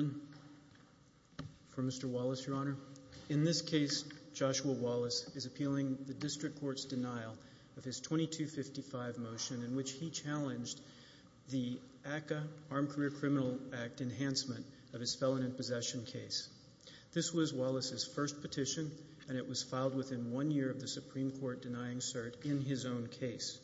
In this case, Joshua Wallace is appealing the District Court's denial of his 2255 motion in which he challenged the ACCA Enhancement of his Felon in Possession case. This was Wallace's first petition, and it was filed within one year of the Supreme Court denying cert in his own case.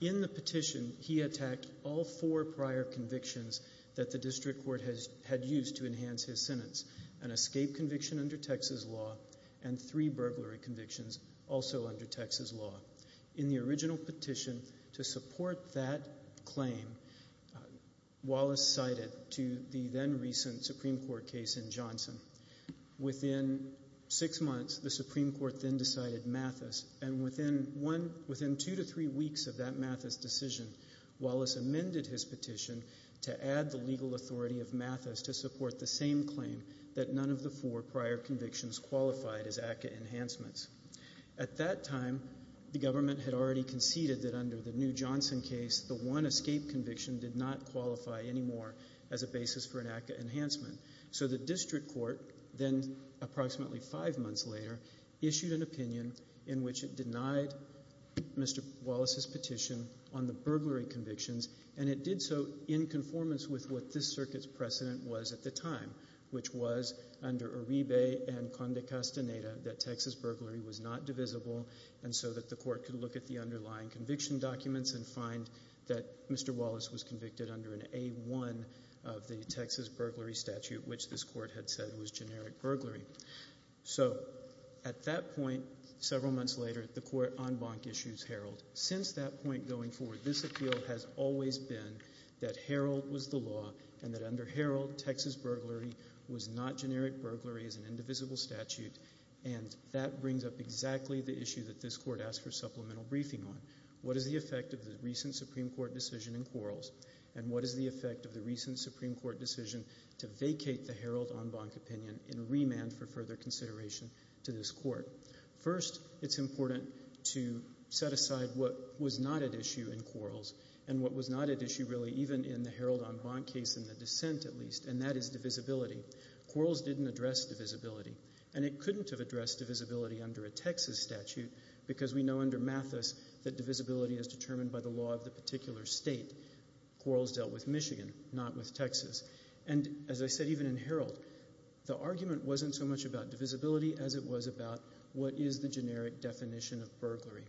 In the petition, he attacked all four prior convictions that the District Court had used to enhance his sentence, an escape conviction under Texas law and three burglary convictions also under Texas law. In the original petition to support that claim, Wallace cited to the then-recent Supreme Court case in Johnson. Within six months, the Supreme Court then decided Mathis, and within two to three weeks of that Mathis decision, Wallace amended his petition to add the legal authority of Mathis to support the same claim that none of the four prior convictions qualified as ACCA Enhancements. At that time, the government had already conceded that under the new Johnson case, the one escape conviction did not qualify anymore as a basis for an ACCA Enhancement. So the District Court, then approximately five months later, issued an opinion in which it denied Mr. Wallace's petition on the burglary convictions, and it did so in conformance with what this circuit's precedent was at the time, which was under Uribe and Conde Castaneda that Texas burglary was not divisible, and so that the court could look at the underlying conviction documents and find that Mr. Wallace was convicted under an A-1 of the Texas burglary statute, which this court had said was generic burglary. So at that point, several months later, the court en banc issues Herald. Since that point going forward, this appeal has always been that Herald was the law and that under Herald, Texas burglary was not generic burglary as an indivisible statute, and that brings up exactly the issue that this court asked for supplemental briefing on. What is the effect of the recent Supreme Court decision in Quarles, and what is the effect of the recent Supreme Court decision to vacate the Herald en banc opinion in remand for further consideration to this court? First, it's important to set aside what was not at issue in Quarles, and what was not at issue really even in the Herald en banc case in the dissent at least, and that is divisibility. Quarles didn't address divisibility, and it couldn't have addressed divisibility under a Texas statute because we know under Mathis that divisibility is determined by the law of the particular state. Quarles dealt with Michigan, not with Texas, and as I said even in Herald, the argument wasn't so much about divisibility as it was about what is the generic definition of burglary.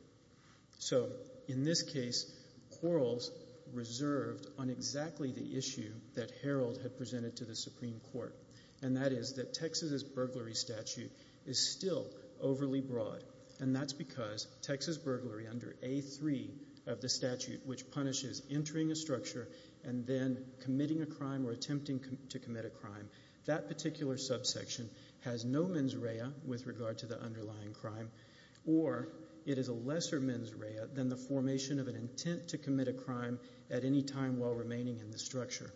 So in this case, Quarles reserved on exactly the issue that Herald had presented to the Supreme Court, and that is that Texas's burglary statute is still overly broad, and that's because Texas burglary under A3 of the statute, which punishes entering a structure and then committing a crime or attempting to commit a crime, that particular subsection has no mens rea with regard to the underlying crime, or it is a lesser mens rea than the formation of an intent to commit a crime at any time while remaining in the structure.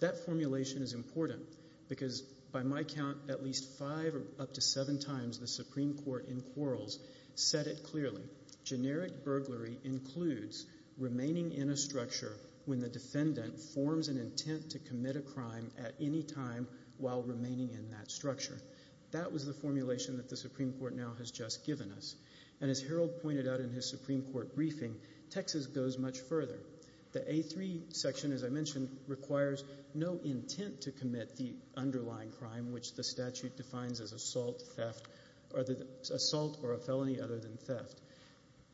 That formulation is important because by my count, at least five or up to seven times the Supreme Court in Quarles set it clearly. Generic burglary includes remaining in a structure when the defendant forms an intent to commit a crime at any time while remaining in that structure. That was the formulation that the Supreme Court now has just given us, and as Herald pointed out in his Supreme Court briefing, Texas goes much further. The A3 section, as I mentioned, requires no intent to commit the underlying crime, which the statute defines as assault or a felony other than theft.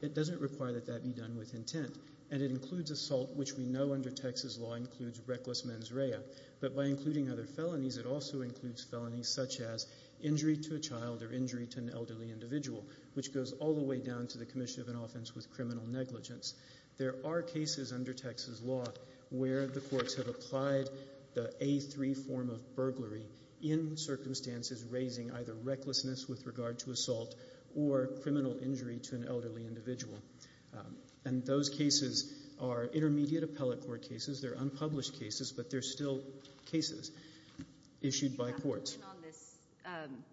It doesn't require that that be done with intent, and it includes assault, which we know under Texas law includes reckless mens rea, but by including other felonies, it also includes felonies such as injury to a child or injury to an elderly individual, which goes all the way down to the commission of an offense with criminal negligence. There are cases under Texas law where the courts have applied the A3 form of burglary in circumstances raising either recklessness with regard to assault or criminal injury to an elderly individual, and those cases are intermediate appellate court cases. They're unpublished cases, but they're still cases issued by courts. You have to win on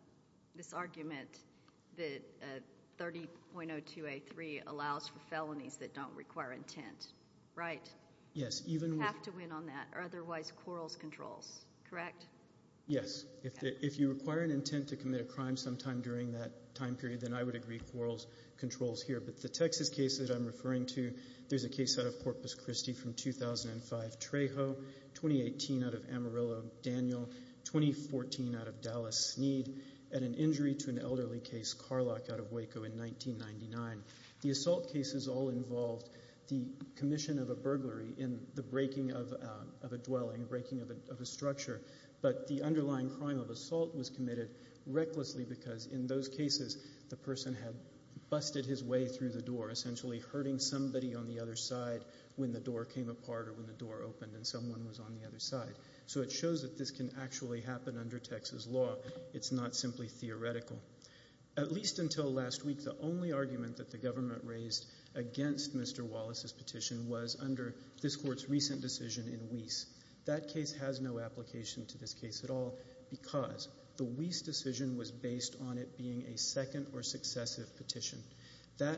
this argument that 30.02A3 allows for felonies that don't require intent, right? Yes, even with... Yes. If you require an intent to commit a crime sometime during that time period, then I would agree Quarles controls here, but the Texas case that I'm referring to, there's a case out of Corpus Christi from 2005, Trejo, 2018 out of Amarillo, Daniel, 2014 out of Dallas, Sneed, and an injury to an elderly case, Carlock out of Waco in 1999. The assault cases all involved the commission of a burglary in the breaking of a dwelling, breaking of a structure, but the underlying crime of assault was committed recklessly because in those cases the person had busted his way through the door, essentially hurting somebody on the other side when the door came apart or when the door opened and someone was on the other side. So it shows that this can actually happen under Texas law. It's not simply theoretical. At least until last week, the only argument that the government raised against Mr. Wallace's that case has no application to this case at all because the Weiss decision was based on it being a second or successive petition. That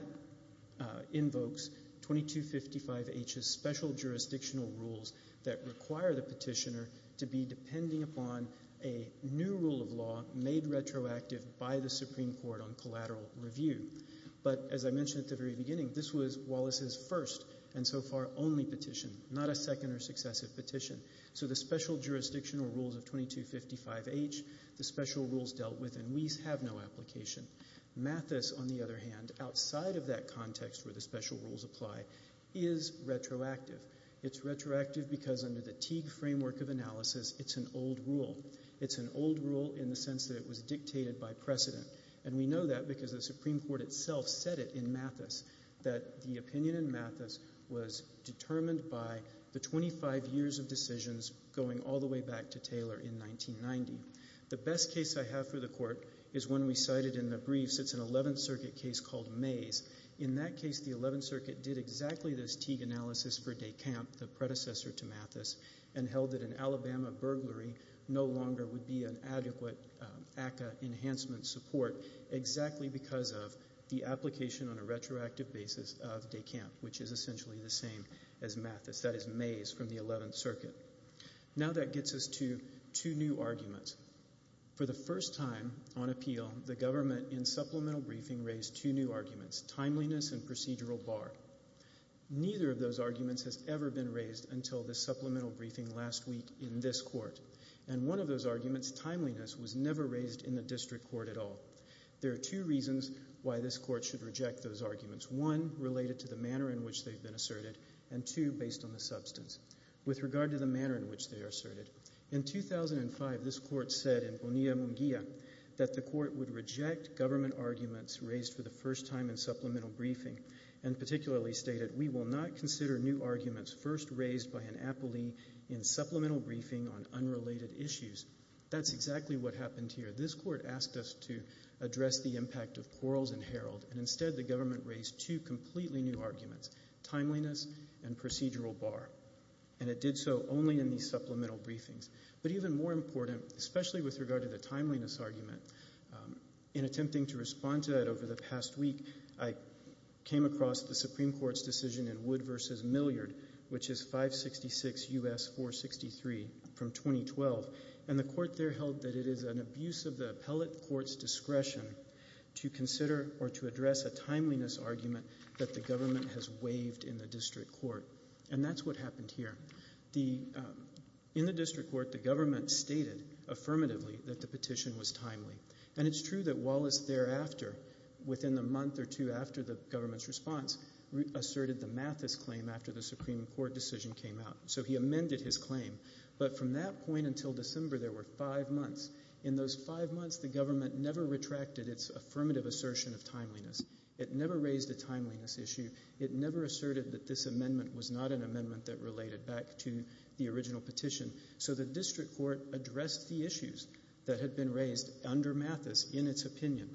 invokes 2255H's special jurisdictional rules that require the petitioner to be depending upon a new rule of law made retroactive by the Supreme Court on collateral review. But as I mentioned at the very beginning, this was Wallace's first and so far only petition, not a second or successive petition. So the special jurisdictional rules of 2255H, the special rules dealt with in Weiss have no application. Mathis, on the other hand, outside of that context where the special rules apply, is retroactive. It's retroactive because under the Teague framework of analysis, it's an old rule. It's an old rule in the sense that it was dictated by precedent. And we know that because the Supreme Court itself said it in Mathis that the opinion in Mathis was determined by the 25 years of decisions going all the way back to Taylor in 1990. The best case I have for the Court is one we cited in the briefs. It's an 11th Circuit case called Mays. In that case, the 11th Circuit did exactly this Teague analysis for DeCamp, the predecessor to Mathis, and held that an Alabama burglary no longer would be an adequate ACCA enhancement support exactly because of the application on a retroactive basis of DeCamp, which is essentially the same as Mathis, that is Mays from the 11th Circuit. Now that gets us to two new arguments. For the first time on appeal, the government in supplemental briefing raised two new arguments, timeliness and procedural bar. Neither of those arguments has ever been raised until the supplemental briefing last week in this Court. And one of those arguments, timeliness, was never raised in the District Court at all. There are two reasons why this Court should reject those arguments. One, related to the manner in which they've been asserted, and two, based on the substance. With regard to the manner in which they are asserted, in 2005, this Court said in Bonilla-Munguia that the Court would reject government arguments raised for the first time in supplemental briefing, and particularly stated, we will not consider new arguments first raised by an appellee in supplemental briefing on unrelated issues. That's exactly what happened here. This Court asked us to address the impact of Quarles and Herald, and instead the government raised two completely new arguments, timeliness and procedural bar. And it did so only in these supplemental briefings. But even more important, especially with regard to the timeliness argument, in attempting to respond to that over the past week, I came across the Supreme Court's decision in Wood v. Milliard, which is 566 U.S. 463, from 2012. And the Court there held that it is an abuse of the appellate court's discretion to consider or to address a timeliness argument that the government has waived in the District Court. And that's what happened here. In the District Court, the government stated affirmatively that the petition was timely. And it's true that Wallace thereafter, within the month or two after the government's response, asserted the Mathis claim after the Supreme Court decision came out. So he amended his claim. But from that point until December, there were five months. In those five months, the government never retracted its affirmative assertion of timeliness. It never raised a timeliness issue. It never asserted that this amendment was not an amendment that related back to the original petition. So the District Court addressed the issues that had been raised under Mathis in its opinion.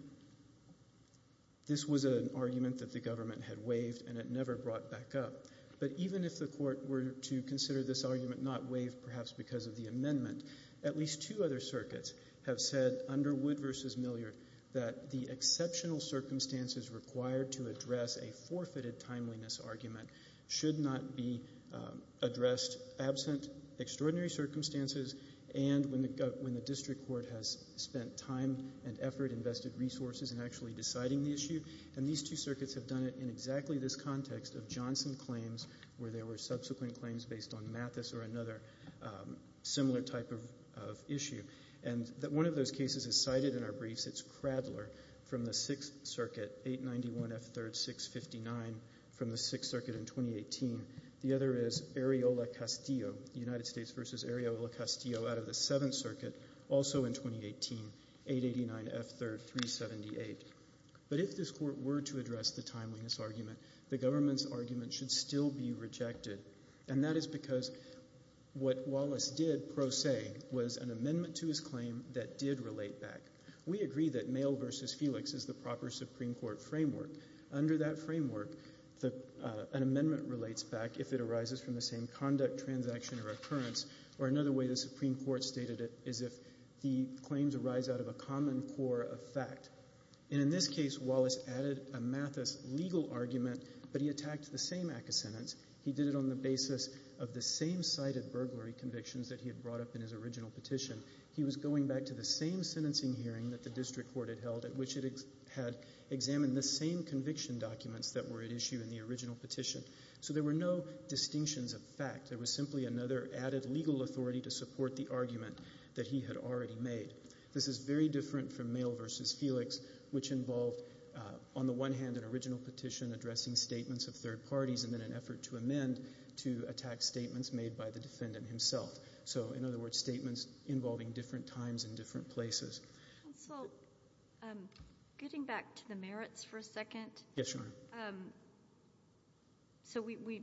This was an argument that the government had waived, and it never brought back up. But even if the Court were to consider this argument not waived, perhaps because of the amendment, at least two other circuits have said, under Wood v. Milliard, that the exceptional circumstances required to address a forfeited timeliness argument should not be addressed absent extraordinary circumstances and when the District Court has spent time and effort and invested resources in actually deciding the issue. And these two circuits have done it in exactly this context of Johnson claims where there were subsequent claims based on Mathis or another similar type of issue. And one of those cases is cited in our briefs. It's Cradler from the Sixth Circuit, 891 F. 3rd, 659, from the Sixth Circuit in 2018. The other is Areola-Castillo, United States v. Areola-Castillo out of the Seventh Circuit, also in 2018, 889 F. 3rd, 378. But if this Court were to address the timeliness argument, the government's argument should still be rejected. And that is because what Wallace did, pro se, was an amendment to his claim that did relate back. We agree that Mayo v. Felix is the proper Supreme Court framework. Under that framework, an amendment relates back if it arises from the same conduct, transaction, or occurrence. Or another way the Supreme Court stated it is if the claims arise out of a common core of fact. And in this case, Wallace added a Mathis legal argument, but he attacked the same act of sentence. He did it on the basis of the same cited burglary convictions that he had brought up in his original petition. He was going back to the same sentencing hearing that the district court had held at which it had examined the same conviction documents that were at issue in the original petition. So there were no distinctions of fact. There was simply another added legal authority to support the argument that he had already made. This is very different from Mayo v. Felix, which involved, on the one hand, an original petition addressing statements of third parties, and then an effort to amend to attack statements made by the defendant himself. So in other words, statements involving different times and different places. Counsel, getting back to the merits for a second, so we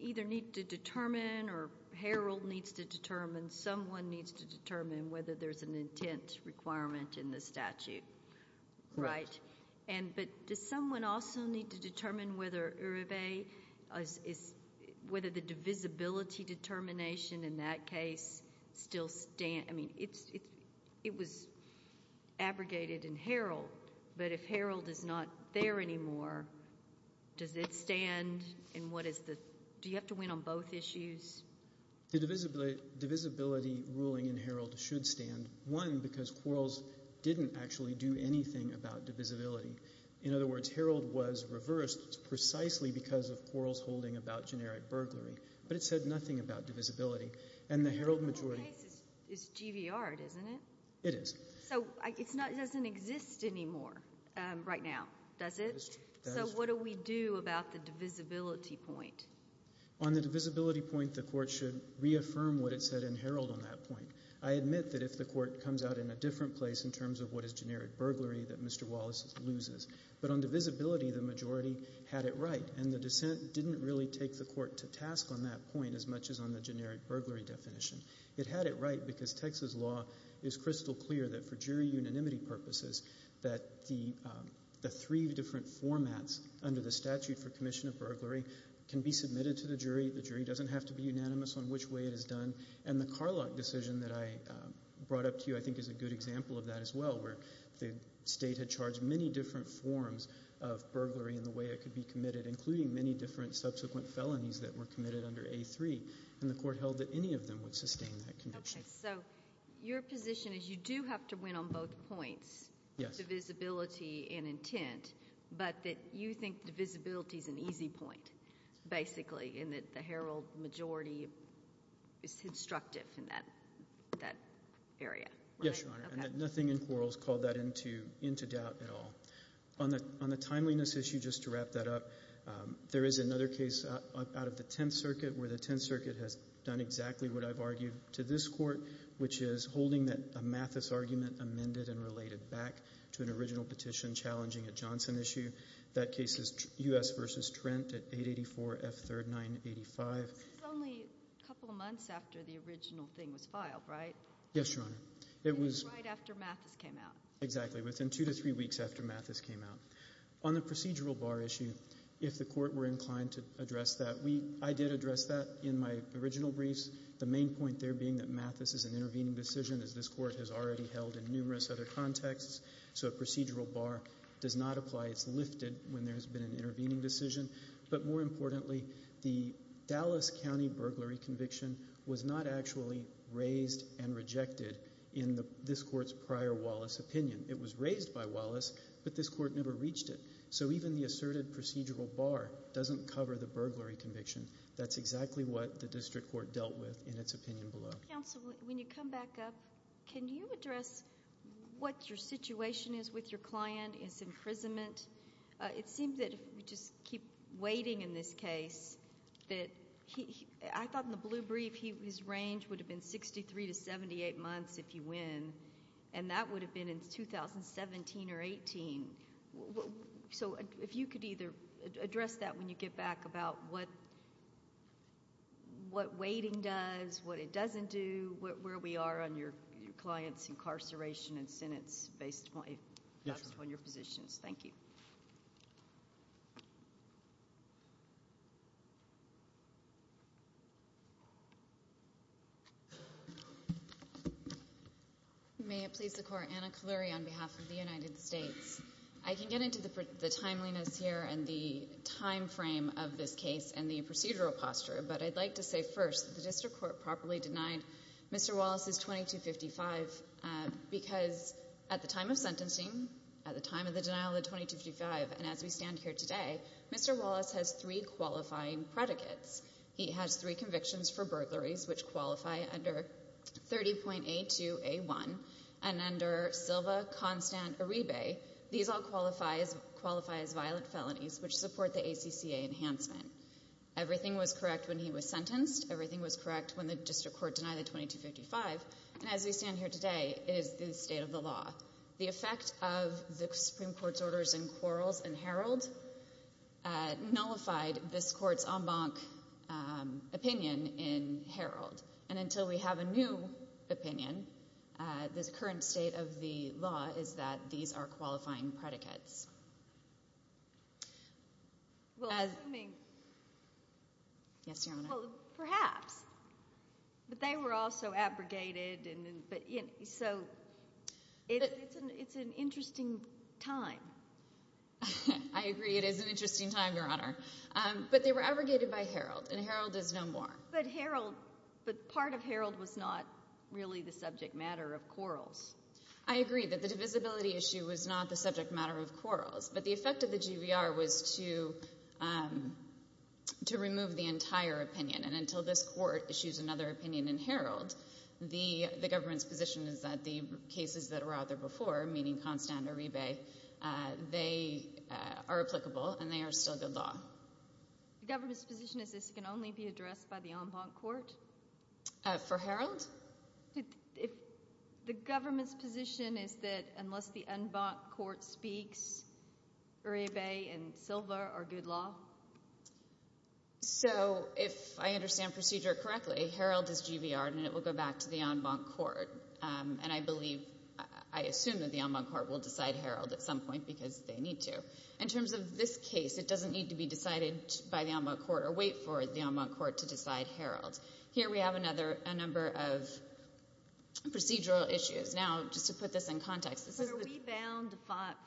either need to determine or Harold needs to determine, someone needs to determine whether there's an intent requirement in the statute, right? But does someone also need to determine whether Uribe, whether the divisibility determination in that case still stands? It was abrogated in Harold, but if Harold is not there anymore, does it stand? Do you have to win on both issues? The divisibility ruling in Harold should stand, one, because Quarles didn't actually do anything about divisibility. In other words, Harold was reversed precisely because of Quarles holding about generic burglary, but it said nothing about divisibility. And the Harold majority... The whole case is GVR, isn't it? It is. So it doesn't exist anymore right now, does it? That is true. So what do we do about the divisibility point? On the divisibility point, the Court should reaffirm what it said in Harold on that point. I admit that if the Court comes out in a different place in terms of what is generic burglary, that Mr. Wallace loses. But to task on that point, as much as on the generic burglary definition, it had it right because Texas law is crystal clear that for jury unanimity purposes, that the three different formats under the statute for commission of burglary can be submitted to the jury. The jury doesn't have to be unanimous on which way it is done. And the Carlock decision that I brought up to you, I think, is a good example of that as well, where the state had charged many different forms of burglary in the way it that were committed under A3. And the Court held that any of them would sustain that conviction. Okay. So your position is you do have to win on both points, divisibility and intent, but that you think divisibility is an easy point, basically, and that the Harold majority is constructive in that area, right? Yes, Your Honor. Okay. And that nothing in quarrels called that into doubt at all. On the timeliness issue, just to wrap that up, there is another case out of the Tenth Circuit where the Tenth Circuit has done exactly what I've argued to this Court, which is holding that a Mathis argument amended and related back to an original petition challenging a Johnson issue. That case is U.S. v. Trent at 884 F. 3rd 985. This is only a couple of months after the original thing was filed, right? Yes, Your Honor. It was right after Mathis came out. Exactly. It was in two to three weeks after Mathis came out. On the procedural bar issue, if the Court were inclined to address that, I did address that in my original briefs. The main point there being that Mathis is an intervening decision, as this Court has already held in numerous other contexts, so a procedural bar does not apply. It's lifted when there's been an intervening decision. But more importantly, the Dallas County burglary conviction was not actually raised and rejected in this Court's prior Wallace opinion. It was raised by Wallace, but this Court never reached it. So even the asserted procedural bar doesn't cover the burglary conviction. That's exactly what the District Court dealt with in its opinion below. Counsel, when you come back up, can you address what your situation is with your client, his imprisonment? It seems that if we just keep waiting in this case that he... I thought in the blue brief his range would have been 63 to 78 months, if you win, and that would have been in 2017 or 18. So if you could either address that when you get back about what waiting does, what it doesn't do, where we are on your client's incarceration and sentence based on your positions. Thank you. May it please the Court, Anna Coluri on behalf of the United States. I can get into the timeliness here and the time frame of this case and the procedural posture, but I'd like to say first that the District Court properly denied Mr. Wallace's and as we stand here today, Mr. Wallace has three qualifying predicates. He has three convictions for burglaries, which qualify under 30.A2A1 and under Silva-Constant-Uribe. These all qualify as violent felonies, which support the ACCA enhancement. Everything was correct when he was sentenced. Everything was correct when the District Court denied the 2255, and as we stand here today, it is the state of the law. The effect of the Supreme Court's orders in Quarles and Herald nullified this Court's en banc opinion in Herald. And until we have a new opinion, the current state of the law is that these are qualifying predicates. Perhaps, but they were also abrogated, so it's an interesting time. I agree it is an interesting time, Your Honor, but they were abrogated by Herald and Herald is no more. But Herald, but part of Herald was not really the subject matter of Quarles. I agree that the divisibility issue was not the subject matter of Quarles, but the effect of the GVR was to remove the entire opinion, and until this Court issues another opinion in Herald, the government's position is that the cases that were out there before, meaning Constant-Uribe, they are applicable and they are still good law. The government's position is this can only be addressed by the en banc court? For Herald? The government's position is that unless the en banc court speaks, Uribe and Silva are good law? So if I understand procedure correctly, Herald is GVR and it will go back to the en banc court, and I believe, I assume that the en banc court will decide Herald at some point because they need to. In terms of this case, it doesn't need to be decided by the en banc court or wait for the en banc court to decide Herald. Here we have a number of procedural issues. Now, just to put this in context, are we bound to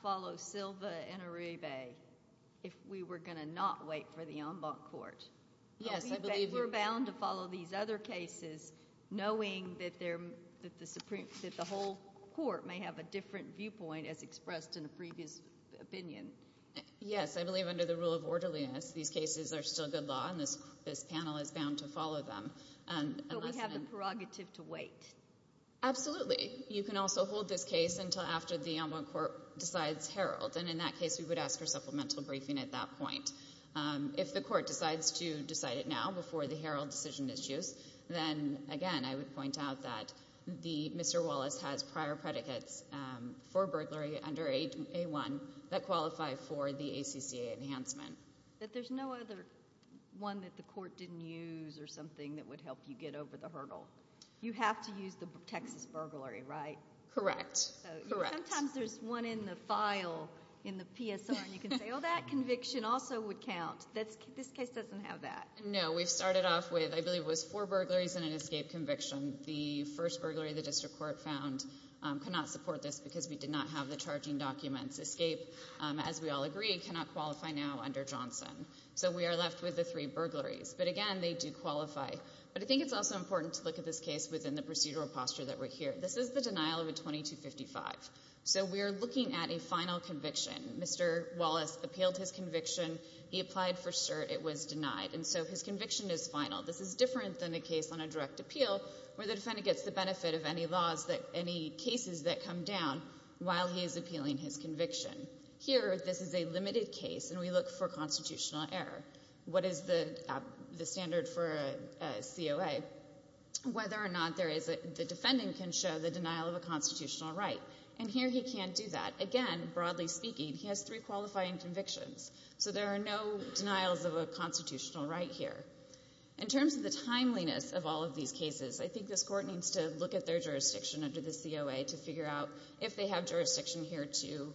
follow Silva and Uribe if we were going to not wait for the en banc court? Yes, I believe. Are we bound to follow these other cases knowing that the Supreme, that the whole court may have a different viewpoint as expressed in a previous opinion? Yes, I believe under the rule of orderliness, these cases are still good law and this panel is bound to follow them. But we have the prerogative to wait? Absolutely. You can also hold this case until after the en banc court decides Herald, and in that case we would ask for supplemental briefing at that point. If the court decides to decide it now before the Herald decision is used, then again, I would point out that Mr. Wallace has prior predicates for burglary under A1 that qualify for the ACCA enhancement. But there's no other one that the court didn't use or something that would help you get over the hurdle. You have to use the Texas burglary, right? Correct. Correct. Sometimes there's one in the file in the PSR and you can say, oh, that conviction also would count. This case doesn't have that. No, we've started off with, I believe it was four burglaries and an escape conviction. The first burglary the district court found could not support this because we did not have the charging documents. Escape, as we all agree, cannot qualify now under Johnson. So we are left with the three burglaries. But again, they do qualify. But I think it's also important to look at this case within the procedural posture that we're here. This is the denial of a 2255. So we are looking at a final conviction. Mr. Wallace appealed his conviction. He applied for cert. It was denied. And so his conviction is final. This is different than a case on a direct appeal where the defendant gets the benefit of any laws that, any cases that come down while he is appealing his conviction. Here this is a limited case and we look for constitutional error. What is the standard for a COA? Whether or not there is a, the defendant can show the denial of a constitutional right. And here he can't do that. Again, broadly speaking, he has three qualifying convictions. So there are no denials of a constitutional right here. In terms of the timeliness of all of these cases, I think this court needs to look at their jurisdiction under the COA to figure out if they have jurisdiction here to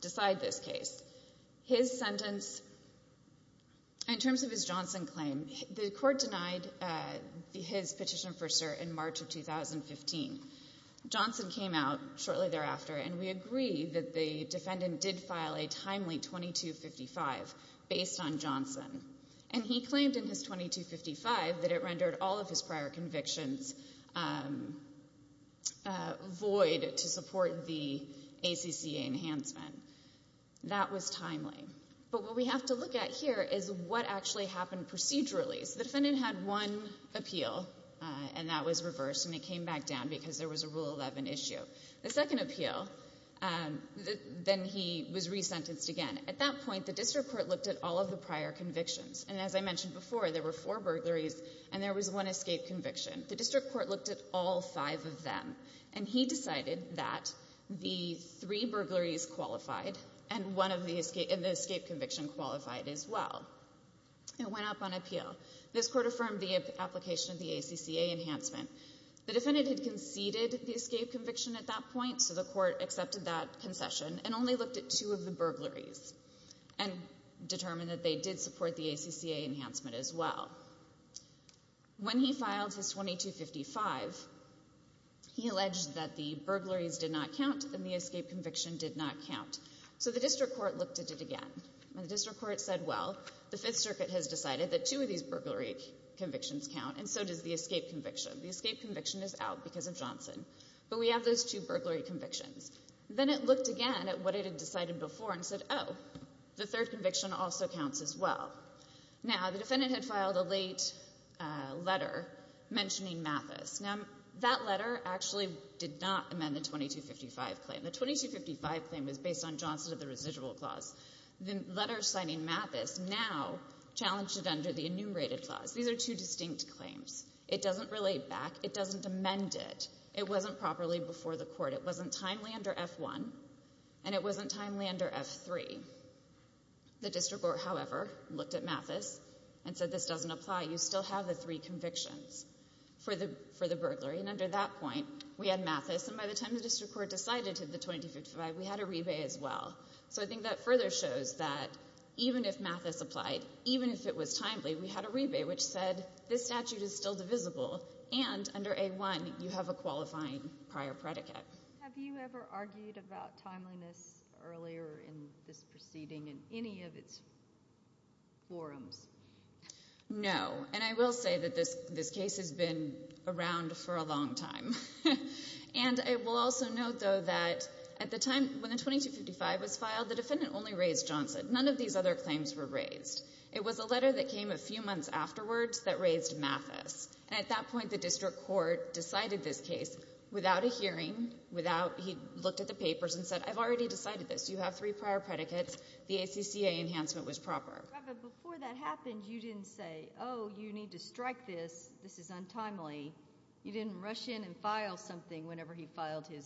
decide this case. His sentence, in terms of his Johnson claim, the court denied his petition for cert in March of 2015. Johnson came out shortly thereafter and we agree that the defendant did file a timely 2255 based on Johnson. And he claimed in his 2255 that it rendered all of his prior convictions void to support the ACCA enhancement. That was timely. But what we have to look at here is what actually happened procedurally. The defendant had one appeal and that was reversed and it came back down because there was a Rule 11 issue. The second appeal, then he was resentenced again. And at that point, the district court looked at all of the prior convictions. And as I mentioned before, there were four burglaries and there was one escape conviction. The district court looked at all five of them. And he decided that the three burglaries qualified and one of the escape convictions qualified as well. It went up on appeal. This court affirmed the application of the ACCA enhancement. The defendant had conceded the escape conviction at that point, so the court accepted that and determined that they did support the ACCA enhancement as well. When he filed his 2255, he alleged that the burglaries did not count and the escape conviction did not count. So the district court looked at it again. And the district court said, well, the Fifth Circuit has decided that two of these burglary convictions count and so does the escape conviction. The escape conviction is out because of Johnson. But we have those two burglary convictions. Then it looked again at what it had decided before and said, oh, the third conviction also counts as well. Now, the defendant had filed a late letter mentioning Mathis. Now, that letter actually did not amend the 2255 claim. The 2255 claim was based on Johnson and the residual clause. The letter citing Mathis now challenged it under the enumerated clause. These are two distinct claims. It doesn't relate back. It doesn't amend it. It wasn't properly before the court. It wasn't timely under F-1 and it wasn't timely under F-3. The district court, however, looked at Mathis and said, this doesn't apply. You still have the three convictions for the burglary. And under that point, we had Mathis. And by the time the district court decided to have the 2255, we had a rebate as well. So I think that further shows that even if Mathis applied, even if it was timely, we had a rebate, which said this statute is still divisible and under A-1 you have a qualifying prior predicate. Have you ever argued about timeliness earlier in this proceeding in any of its forums? No. And I will say that this case has been around for a long time. And I will also note, though, that at the time when the 2255 was filed, the defendant only raised Johnson. None of these other claims were raised. It was a letter that came a few months afterwards that raised Mathis. And at that point, the district court decided this case without a hearing, without, he looked at the papers and said, I've already decided this. You have three prior predicates. The ACCA enhancement was proper. But before that happened, you didn't say, oh, you need to strike this. This is untimely. You didn't rush in and file something whenever he filed his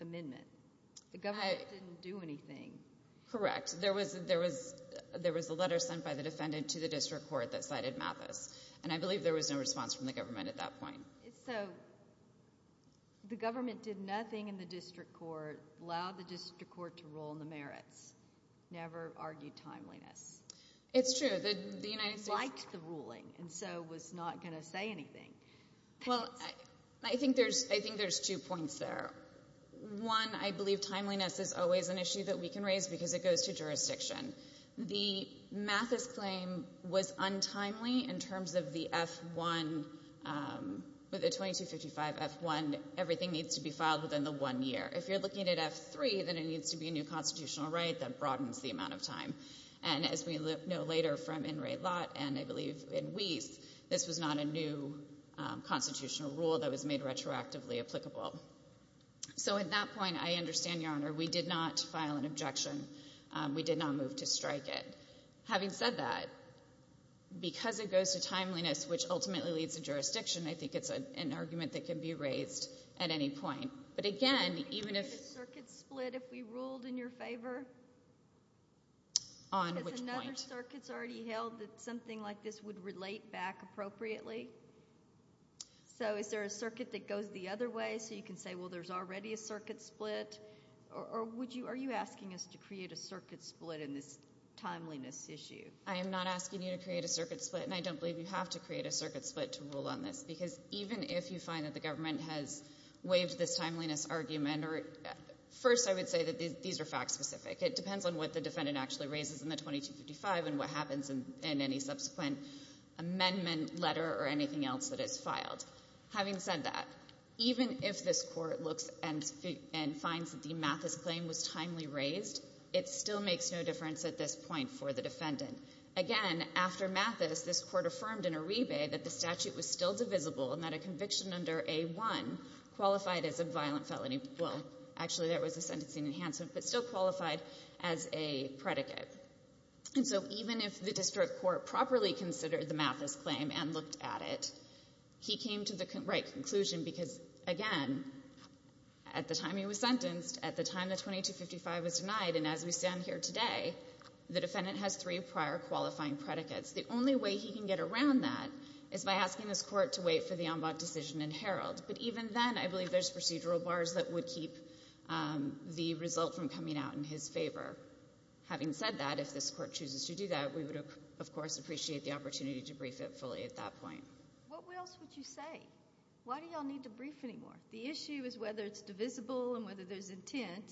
amendment. The government didn't do anything. Correct. There was a letter sent by the defendant to the district court that cited Mathis. And I believe there was no response from the government at that point. So the government did nothing in the district court, allowed the district court to rule on the merits, never argued timeliness. It's true. The United States liked the ruling and so was not going to say anything. Well, I think there's two points there. One, I believe timeliness is always an issue that we can raise because it goes to jurisdiction. The Mathis claim was untimely in terms of the F-1, the 2255 F-1. Everything needs to be filed within the one year. If you're looking at F-3, then it needs to be a new constitutional right that broadens the amount of time. And as we know later from In re Lot and I believe in Weiss, this was not a new constitutional rule that was made retroactively applicable. So at that point, I understand, Your Honor, we did not file an objection. We did not move to strike it. Having said that, because it goes to timeliness, which ultimately leads to jurisdiction, I think it's an argument that can be raised at any point. But again, even if- Would there be a circuit split if we ruled in your favor? On which point? Has another circuit already held that something like this would relate back appropriately? So is there a circuit that goes the other way so you can say, well, there's already a circuit split? Or are you asking us to create a circuit split in this timeliness issue? I am not asking you to create a circuit split, and I don't believe you have to create a circuit split to rule on this. Because even if you find that the government has waived this timeliness argument, first I would say that these are fact specific. It depends on what the defendant actually raises in the 2255 and what happens in any subsequent amendment, letter, or anything else that is filed. Having said that, even if this Court looks and finds that the Mathis claim was timely raised, it still makes no difference at this point for the defendant. Again, after Mathis, this Court affirmed in a rebate that the statute was still divisible and that a conviction under A-1 qualified as a violent felony. Well, actually, that was a sentencing enhancement, but still qualified as a predicate. And so even if the district court properly considered the Mathis claim and looked at it, he came to the right conclusion because, again, at the time he was sentenced, at the time the 2255 was denied, and as we stand here today, the defendant has three prior qualifying predicates. The only way he can get around that is by asking this Court to wait for the en bas decision and herald. But even then, I believe there's procedural bars that would keep the result from coming out in his favor. Having said that, if this Court chooses to do that, we would, of course, appreciate the opportunity to brief it fully at that point. What else would you say? Why do you all need to brief anymore? The issue is whether it's divisible and whether there's intent,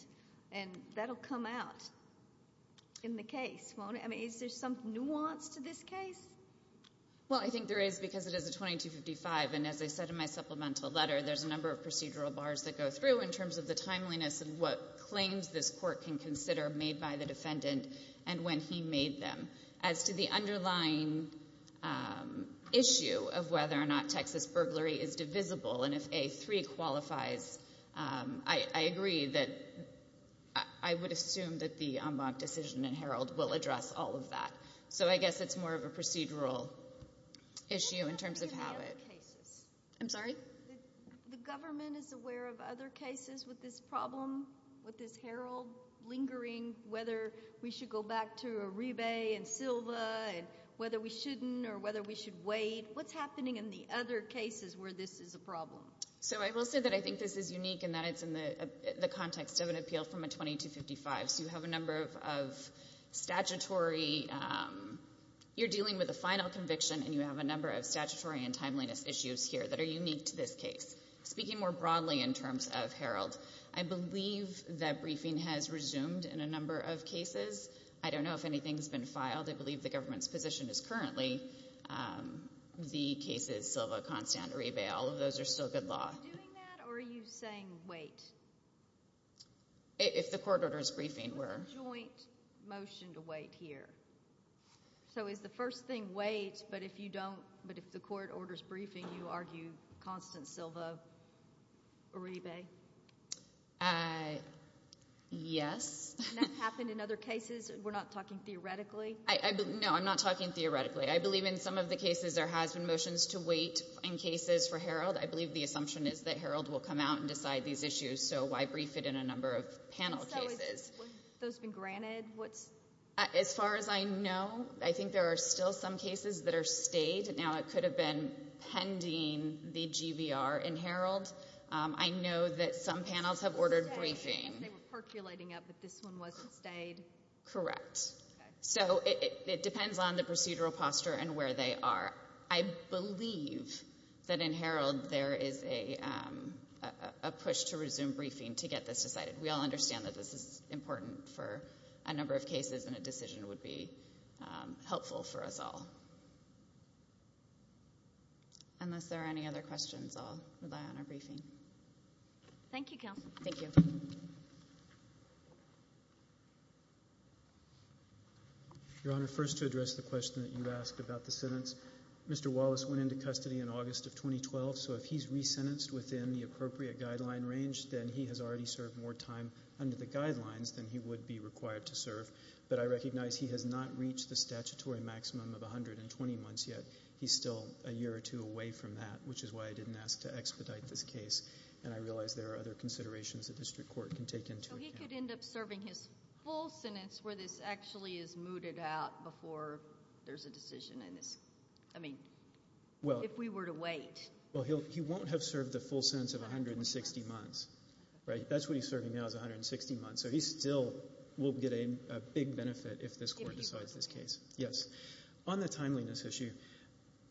and that will come out in the case, won't it? I mean, is there some nuance to this case? Well, I think there is because it is a 2255, and as I said in my supplemental letter, there's a number of procedural bars that go through in terms of the timeliness of what claims this Court can consider made by the defendant and when he made them. As to the underlying issue of whether or not Texas burglary is divisible, and if A-3 qualifies, I agree that I would assume that the en bas decision and herald will address all of that. So I guess it's more of a procedural issue in terms of how it... What about the other cases? I'm sorry? The government is aware of other cases with this problem, with this herald lingering, whether we should go back to Arrive and Silva, and whether we shouldn't or whether we should wait. What's happening in the other cases where this is a problem? So I will say that I think this is unique in that it's in the context of an appeal from a 2255. So you have a number of statutory... you're dealing with a final conviction, and you have a number of statutory and timeliness issues here that are unique to this case. Speaking more broadly in terms of herald, I believe that briefing has resumed in a number of cases. I don't know if anything's been filed. I believe the government's position is currently the cases Silva, Constant, Arrive, all of those are still good law. Are you doing that, or are you saying wait? If the court orders briefing, we're... It's a joint motion to wait here. So is the first thing wait, but if you don't... but if the court orders briefing, you argue Constant, Silva, Arrive? Yes. And that's happened in other cases? We're not talking theoretically? No, I'm not talking theoretically. I believe in some of the cases there has been motions to wait in cases for herald. I believe the assumption is that herald will come out and decide these issues, so why brief it in a number of panel cases? So has those been granted? As far as I know, I think there are still some cases that are stayed. Now it could have been pending the GVR in herald. I know that some panels have ordered briefing. They were percolating up, but this one wasn't stayed? Correct. So it depends on the procedural posture and where they are. I believe that in herald there is a push to resume briefing to get this decided. We all understand that this is important for a number of cases and a decision would be helpful for us all. Unless there are any other questions, I'll rely on our briefing. Thank you, Counsel. Thank you. Your Honor, first to address the question that you asked about the sentence, Mr. Wallace went into custody in August of 2012, so if he's resentenced within the appropriate guideline range, then he has already served more time under the guidelines than he would be required to serve, but I recognize he has not reached the statutory maximum of 120 months yet. He's still a year or two away from that, which is why I didn't ask to expedite this case, and I realize there are other considerations the district court can take into account. So he could end up serving his full sentence where this actually is mooted out before there's a decision in this. I mean, if we were to wait. Well, he won't have served the full sentence of 160 months, right? That's what he's serving now is 160 months, so he still will get a big benefit if this court decides this case. Yes. On the timeliness issue,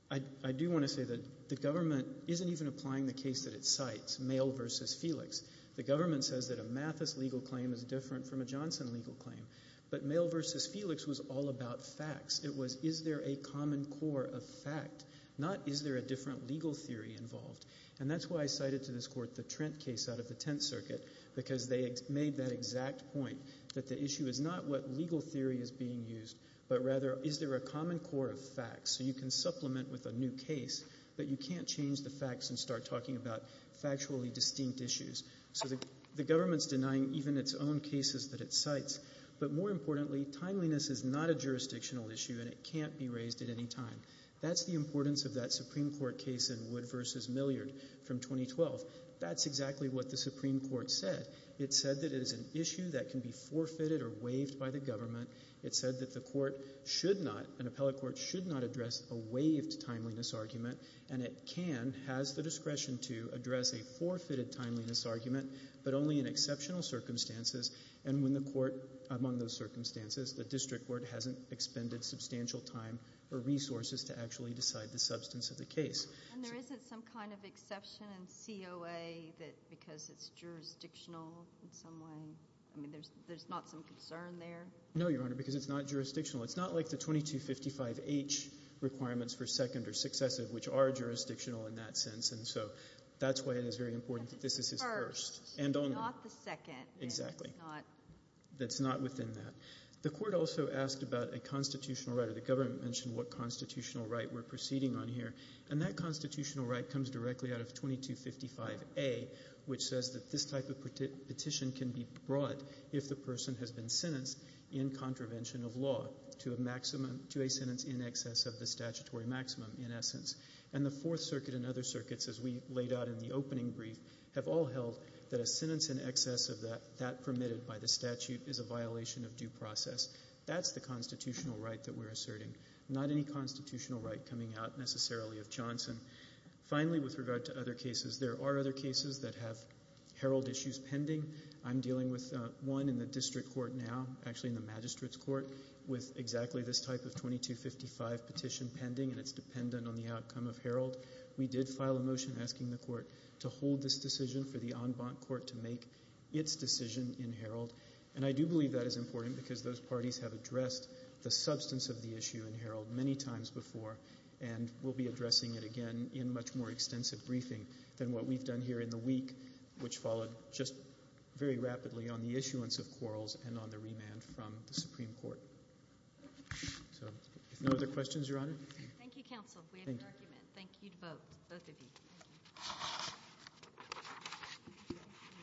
I do want to say that the government isn't even applying the case that it cites, Mail v. Felix. The government says that a Mathis legal claim is different from a Johnson legal claim, but Mail v. Felix was all about facts. It was is there a common core of fact, not is there a different legal theory involved, and that's why I cited to this court the Trent case out of the Tenth Circuit because they made that exact point that the issue is not what legal theory is being used, but rather is there a common core of facts so you can supplement with a new case, but you can't change the facts and start talking about factually distinct issues. So the government's denying even its own cases that it cites, but more importantly, timeliness is not a jurisdictional issue and it can't be raised at any time. That's the importance of that Supreme Court case in Wood v. Milliard from 2012. That's exactly what the Supreme Court said. It said that it is an issue that can be forfeited or waived by the government. It said that the court should not, an appellate court should not address a waived timeliness argument, and it can, has the discretion to, address a forfeited timeliness argument, but only in exceptional circumstances, and when the court, among those circumstances, the district court hasn't expended substantial time or resources to actually decide the substance of the case. And there isn't some kind of exception in COA because it's jurisdictional in some way? I mean, there's not some concern there? No, Your Honor, because it's not jurisdictional. It's not like the 2255H requirements for second or successive which are jurisdictional in that sense, and so that's why it is very important that this is his first. Not the second. Exactly. It's not. It's not within that. The court also asked about a constitutional right, or the government mentioned what constitutional right we're proceeding on here, and that constitutional right comes directly out of 2255A, which says that this type of petition can be brought if the person has been sentenced in contravention of law to a maximum, to a sentence in excess of the statutory maximum, in essence. And the Fourth Circuit and other circuits, as we laid out in the opening brief, have all held that a sentence in excess of that, permitted by the statute, is a violation of due process. That's the constitutional right that we're asserting. Not any constitutional right coming out necessarily of Johnson. Finally, with regard to other cases, there are other cases that have herald issues pending. I'm dealing with one in the district court now, actually in the magistrate's court, with exactly this type of 2255 petition pending, and it's dependent on the outcome of herald. We did file a motion asking the court to hold this decision for the en banc court to make its decision in herald, and I do believe that is important because those parties have addressed the substance of the issue in herald many times before, and we'll be addressing it again in much more extensive briefing than what we've done here in the week, which followed just very rapidly on the issuance of quarrels and on the remand from the Supreme Court. So, if no other questions, Your Honor? Thank you, counsel. We have no argument. Thank you to both of you. Thank you.